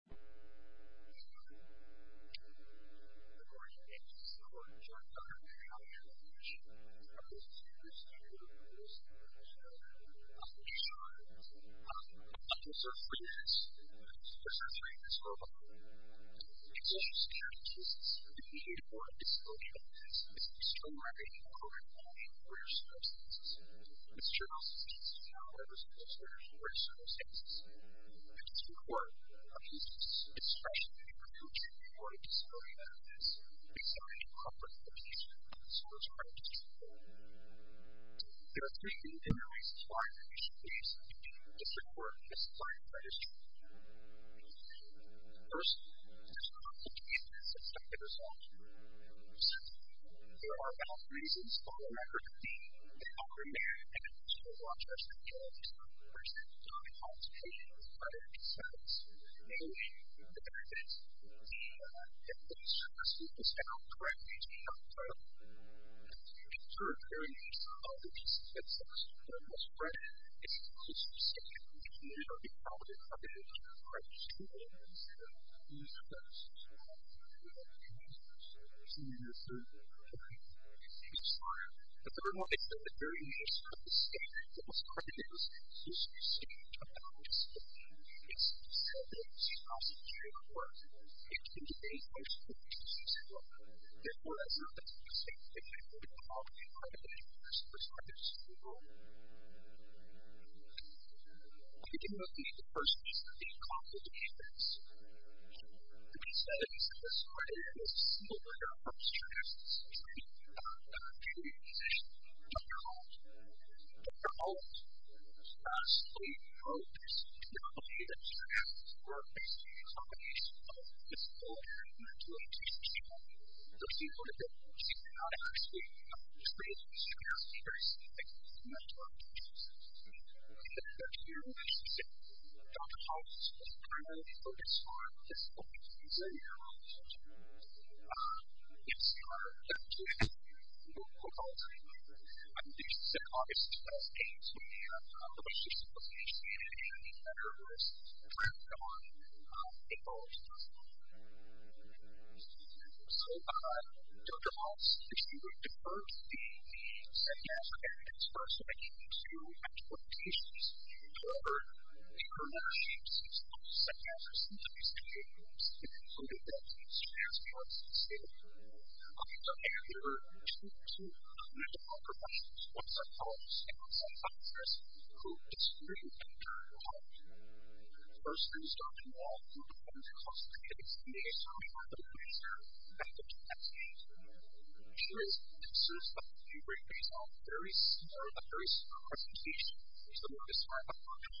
Good morning and thank you for joining us on our reality interview show. Our guest speaker this evening is Dr. Lisa Roberts. Dr. Roberts is a freelance professor at the University of Oklahoma. She is a social scientist, a mediator for disability advocates, and a strong advocate for women, men, and queer circumstances. Ms. Roberts is a senior fellow at the School of Social and Queer Circumstances. Ms. Roberts' work focuses especially on the future of disability advocates based on a comprehensive history of social justice reform. There are three main areas of higher education that you should be looking at to support a society that is changing. First, there should not be any subjective results. Secondly, there are valid reasons for the record of being, I mean, obviously there are jurisprudence parties individuals to be able to participate in various societies mainly for his interest, because if this objective is correctly exemplified, then indeed, of course, although this objective is also important as a record, it should be supported by punitive measures. And I think it is really important as well to look at for which le Views should perscribe. I see you there, sir. Thank you. Thank you, sir. The third one is that the variation of the state that was started in was a social state of the highest proportion. It's said that it was a cross-sectorial work, and it's been debated by social justice as well. Therefore, as an objective, it may not be the only part of the universe which had this role. I think in the first piece of the complications, I think it's said that he said that this variation was a single layer of strata, and it's been debated by other community positions. Dr. Holmes, Dr. Holmes, as he wrote this complicated strata, or basically a combination of his own interpretation of people, those people that he did not actually experience as strata, or see them as strata. In the 13th century, as he said, Dr. Holmes was primarily focused on this point, this layer of strata. In the 17th century, in the 12th century, at least since August of the 18th century, the position of the humanity as a universe dragged on in both. So, Dr. Holmes, if you would, the first thing, the second aspect, it starts to make you into expectations. However, the earlier shapes of psychosis, of these opinions, including those of Stansford, say, I mean, they're there in order to create a population, what's that called? Stansford's populace, who is really being turned on. First things, Dr. Holmes, Dr. Holmes constitutes a sort of a laser method to that state. Which is, in a sense, a very small, a very small representation of what is going on in the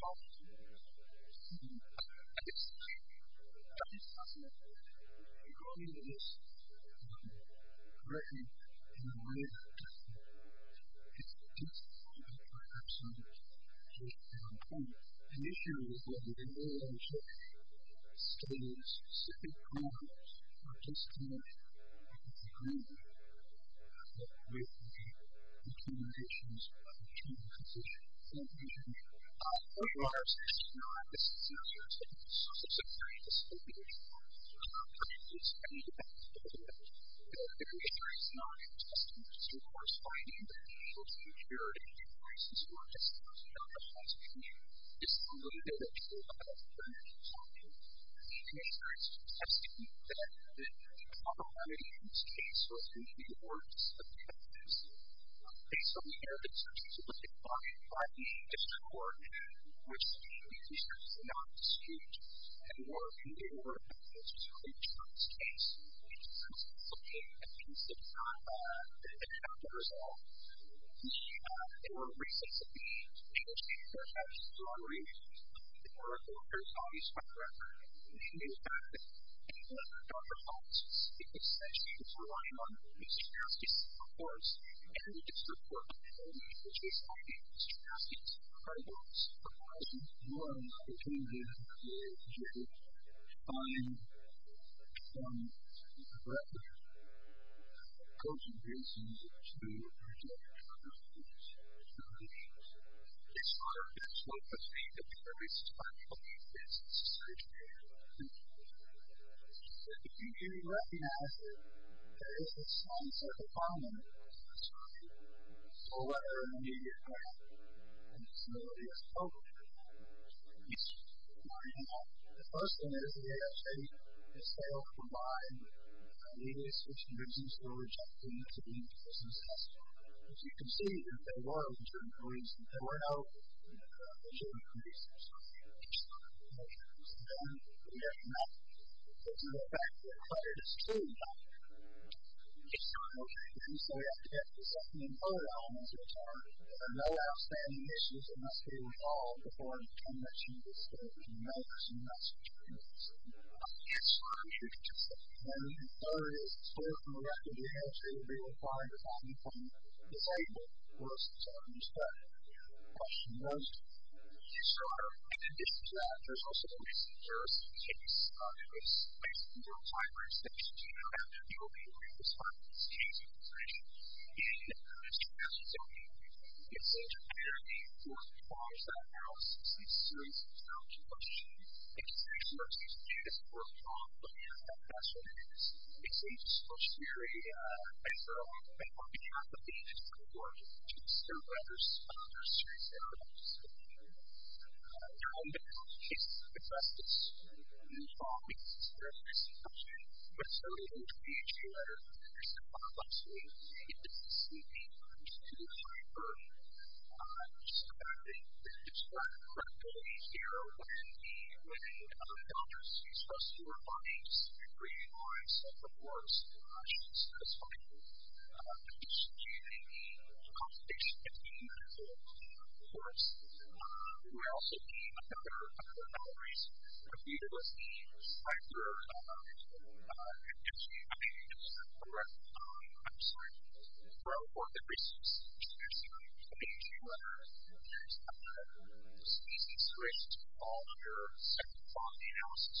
world. I guess, I mean, Dr. Stansford included this correctly in the way that it's described by Dr. Stansford. He, initially, what he did was he studied specific problems of this kind and he concluded that, basically, between these issues, between the physician and the patient, there are some similarities and some differences between the psychosis and the psychosis of the patient. So, Dr. Stansford said, you know, the patient is not a test subject. So, of course, finding that the patient is not a test subject is not a scientific issue. It's simply that it's a clinical subject. So, patients have seen that the commonalities in this case were more subjective. Based on the evidence which was looked at by Dr. Stansford, which the researchers did not dispute, were more subjective about this case, which was a piece that did not have a result. They were recently able to see that there were some between the clinical case and the psychosis of the patient. So, this is not a scientific issue. It's not a scientific issue. It's a case, of course, and it's important for the society to have these problems arising more and more occasionally than they were projected to find from relative consequences to result from these conditions. It's part of this work, which we have been doing since the century before. If you do recognize it, there is a sense of abominance in this work. The sole matter of work is the immediate impact on disability as a whole. The first thing is that they all combined lead us into a project that needs to be successful. If you can see that there was a reason for it, there were no legitimate reasons for it. So then we have to get something in line which are no physical reasons. So in summary, although the court did not, was not consented with the issue of should we give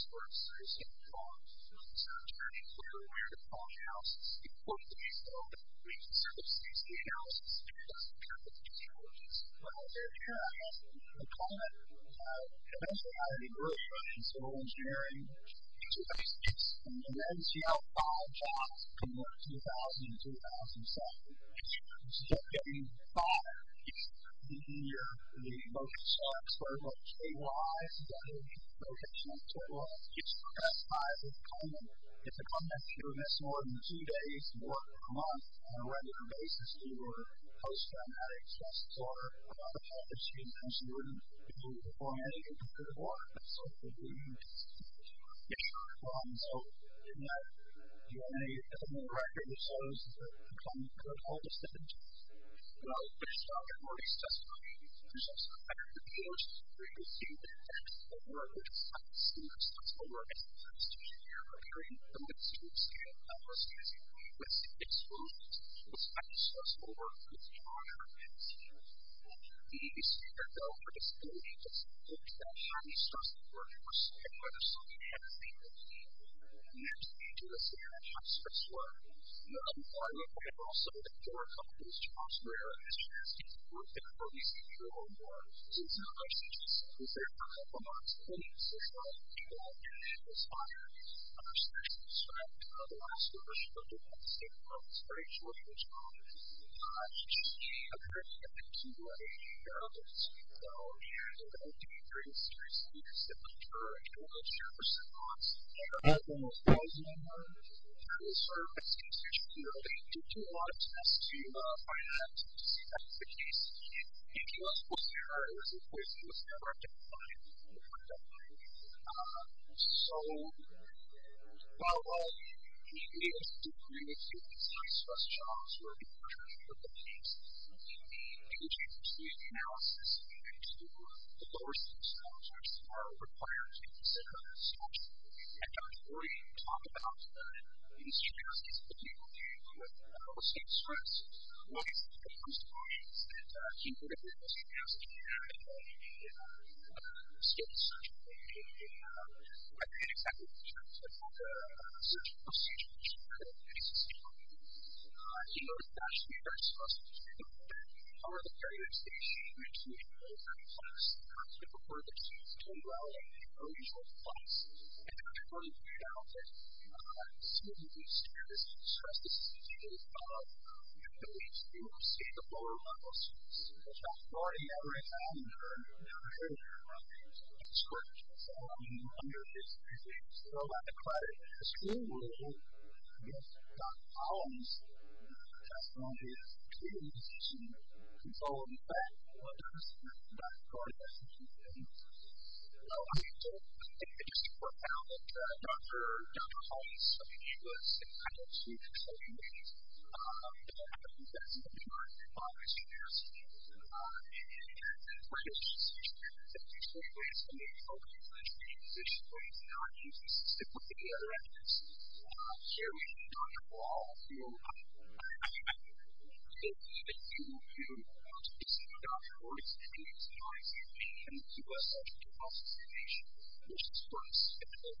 credit to Dr. Gordy versus Dr. Khan, the court did consider what Dr. Gordy was saying and criticized Dr. Gordy and Dr. Khan. The commissioner also anyway said that it does not control the district court's funding, but the district court specifically found that these three reasons the ALJs had given were not in line not agree with the district court's funding. The district court did not agree with the district court's funding. The district funding. The district court did not agree with the district court's funding. The district court did not agree with thing that the agency was supposed to do is that after the cases before the cases were raised the agency said but we thought over more and that's why the ALJ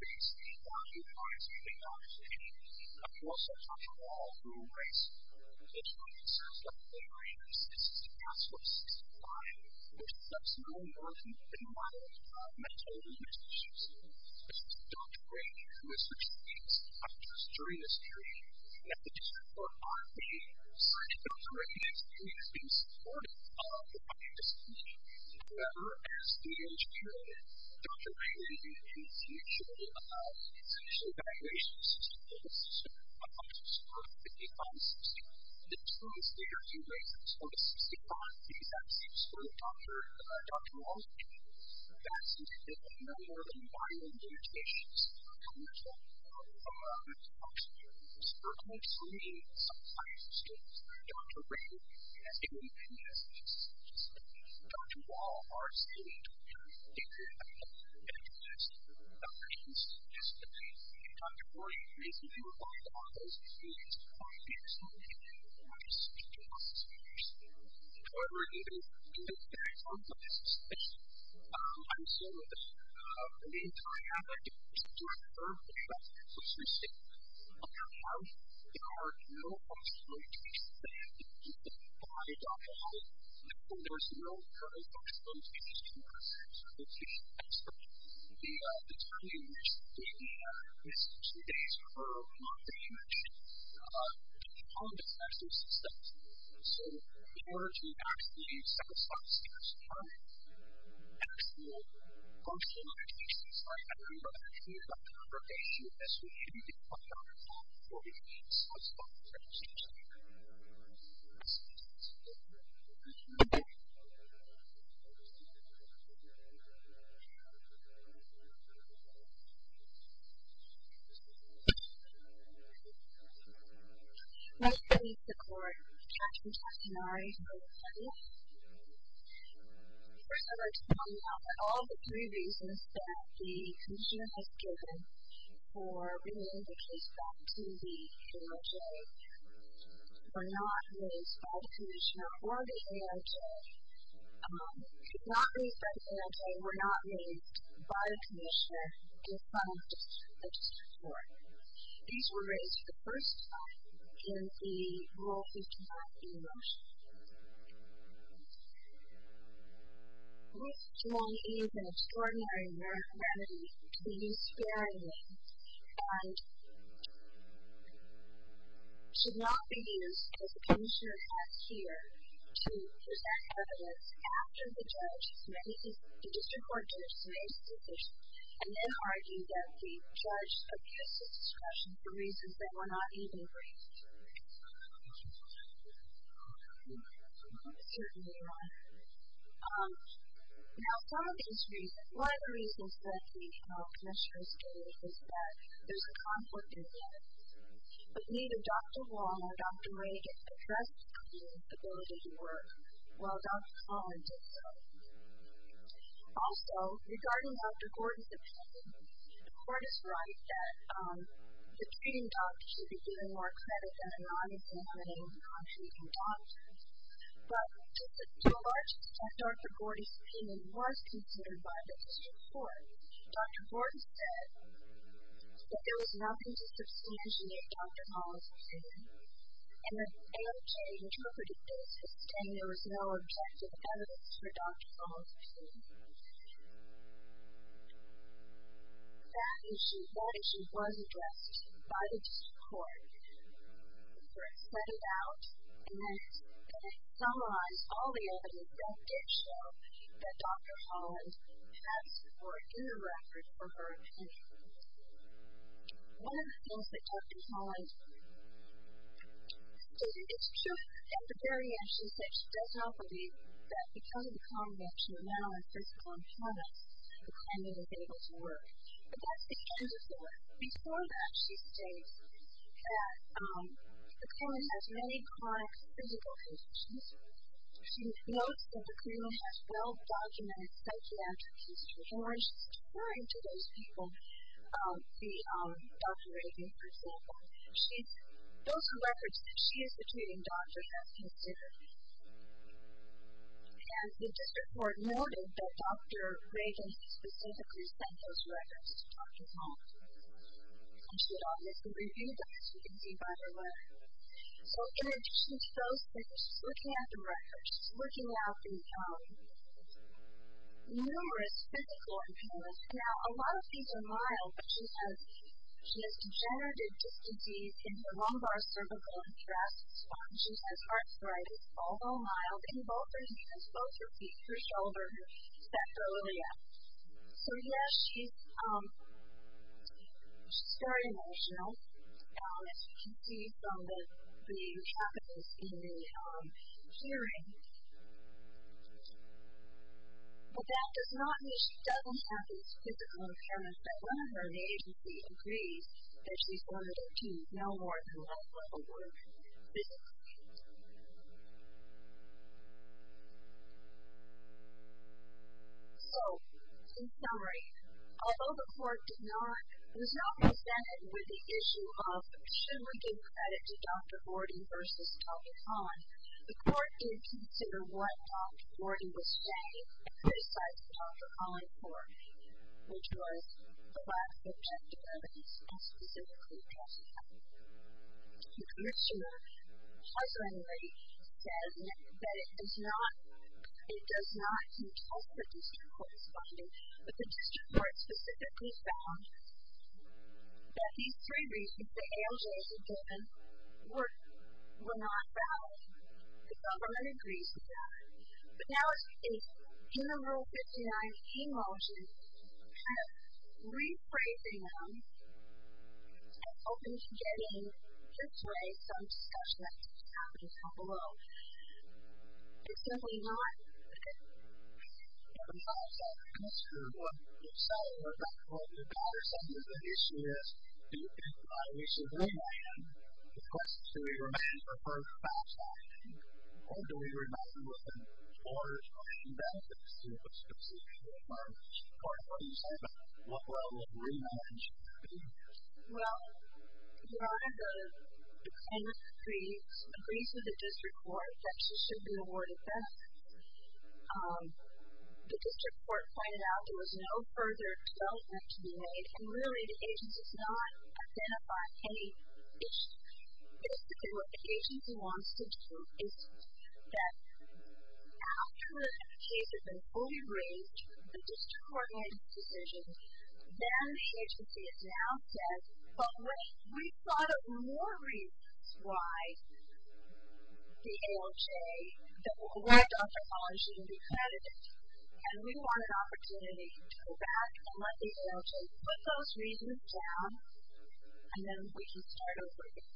the award Dr. Collins shouldn't be credited and we want an opportunity to go back and let the ALJ put those reasons down and then we can start over again.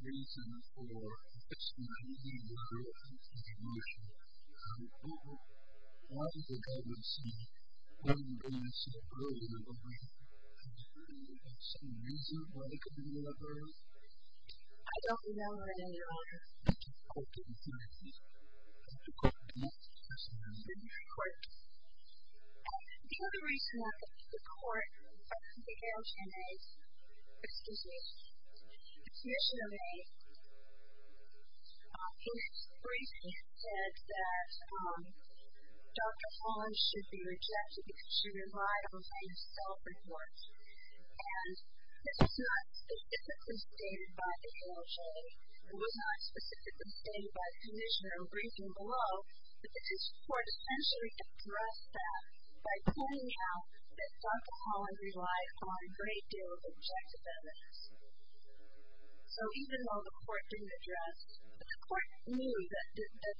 Reason for the ALJ award? I don't know an answer. I don't know an answer. The other reason that the court of the ALJ is usually briefed and said that Dr. Collins should be rejected because she relied on self reports and it was not specifically stated by the ALJ it was not specifically stated by the commissioner or briefing below but the court essentially addressed that by pointing out that Dr. Collins relied on a great deal of objective evidence. So even though the court didn't address it, the court knew that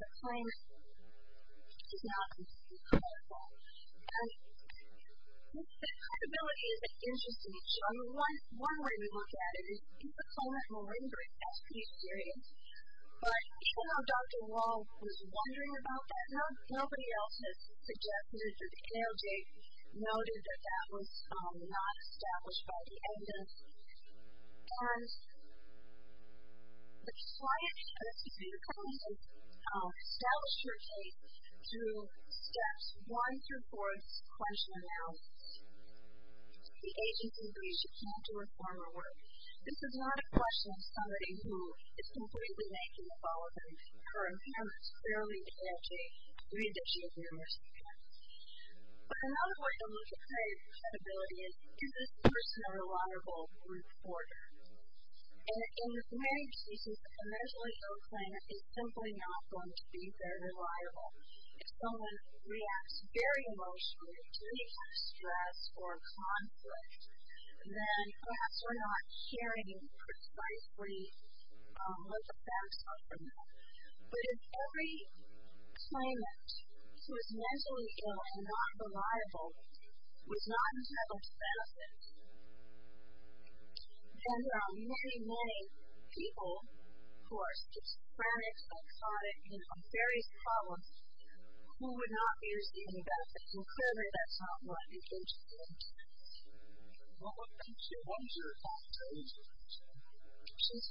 the claim was not completely correct. And even though Dr. Wall was wondering about that, nobody else had suggested that ALJ noted that that was not established by the evidence and the client of Dr. Collins established her case through steps one through four of ALJ case. The agency agrees that she can't do her formal work. This is not a question of somebody who is completely making the follow-up of her appearance clearly guaranteeing the addition of numerous factors. But another way to look at credibility is, is this person a reliable reporter? And in this marriage case, it's a measurably low claim that is simply not going to be very reliable. If someone reacts very emotionally to stress or conflict, then perhaps they're not sharing precisely what the facts are for them. But if every claimant who is mentally ill and not reliable was not entitled to benefit, then there are many, many people who are schizophrenic, exotic, and on various columns who would not be receiving benefits and clearly that's not what they came to be entitled to. Well, thank you. What is your thoughts on this question? She's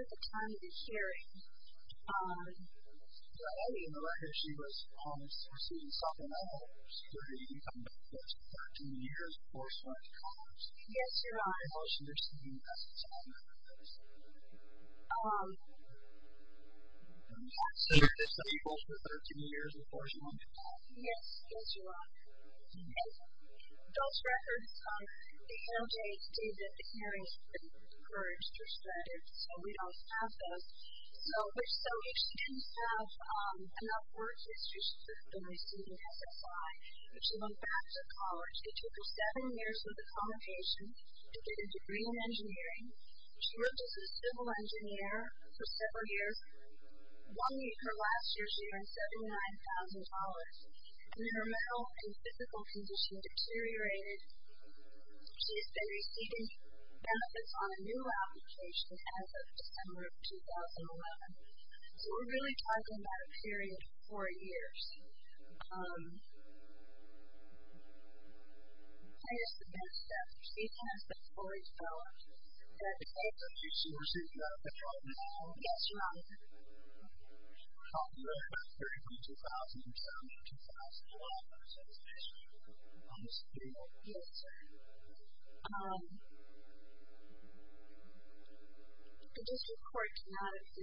52 at the time of this hearing. Um, well, it's been 13 years before she went to college. Yes, yes, you're right. Those records, um, the LJ did the hearings for extra credit, so we don't have those. So, if she didn't have, um, enough work to get a degree in engineering, she worked as a civil engineer for several years. One week her last year she earned $79,000 and her mental and physical condition deteriorated. She has been receiving benefits on a new application as of December of 2011. So, we're really talking about a period of four years. Um, she is the next step. She has the $40,000 that she received from the program. Yes, you're right. She earned about $32,000 in 2011. Yes. Um, the district court has decided that she will continue to work as a for a number of years. Um, she will continue to work as a civil engineer for a number of years. She will Um, she will continue to work as a civil engineer for a number of years. Um, she will continue will continue to work as a civil engineer for a number of years. Um, she will continue to work as a civil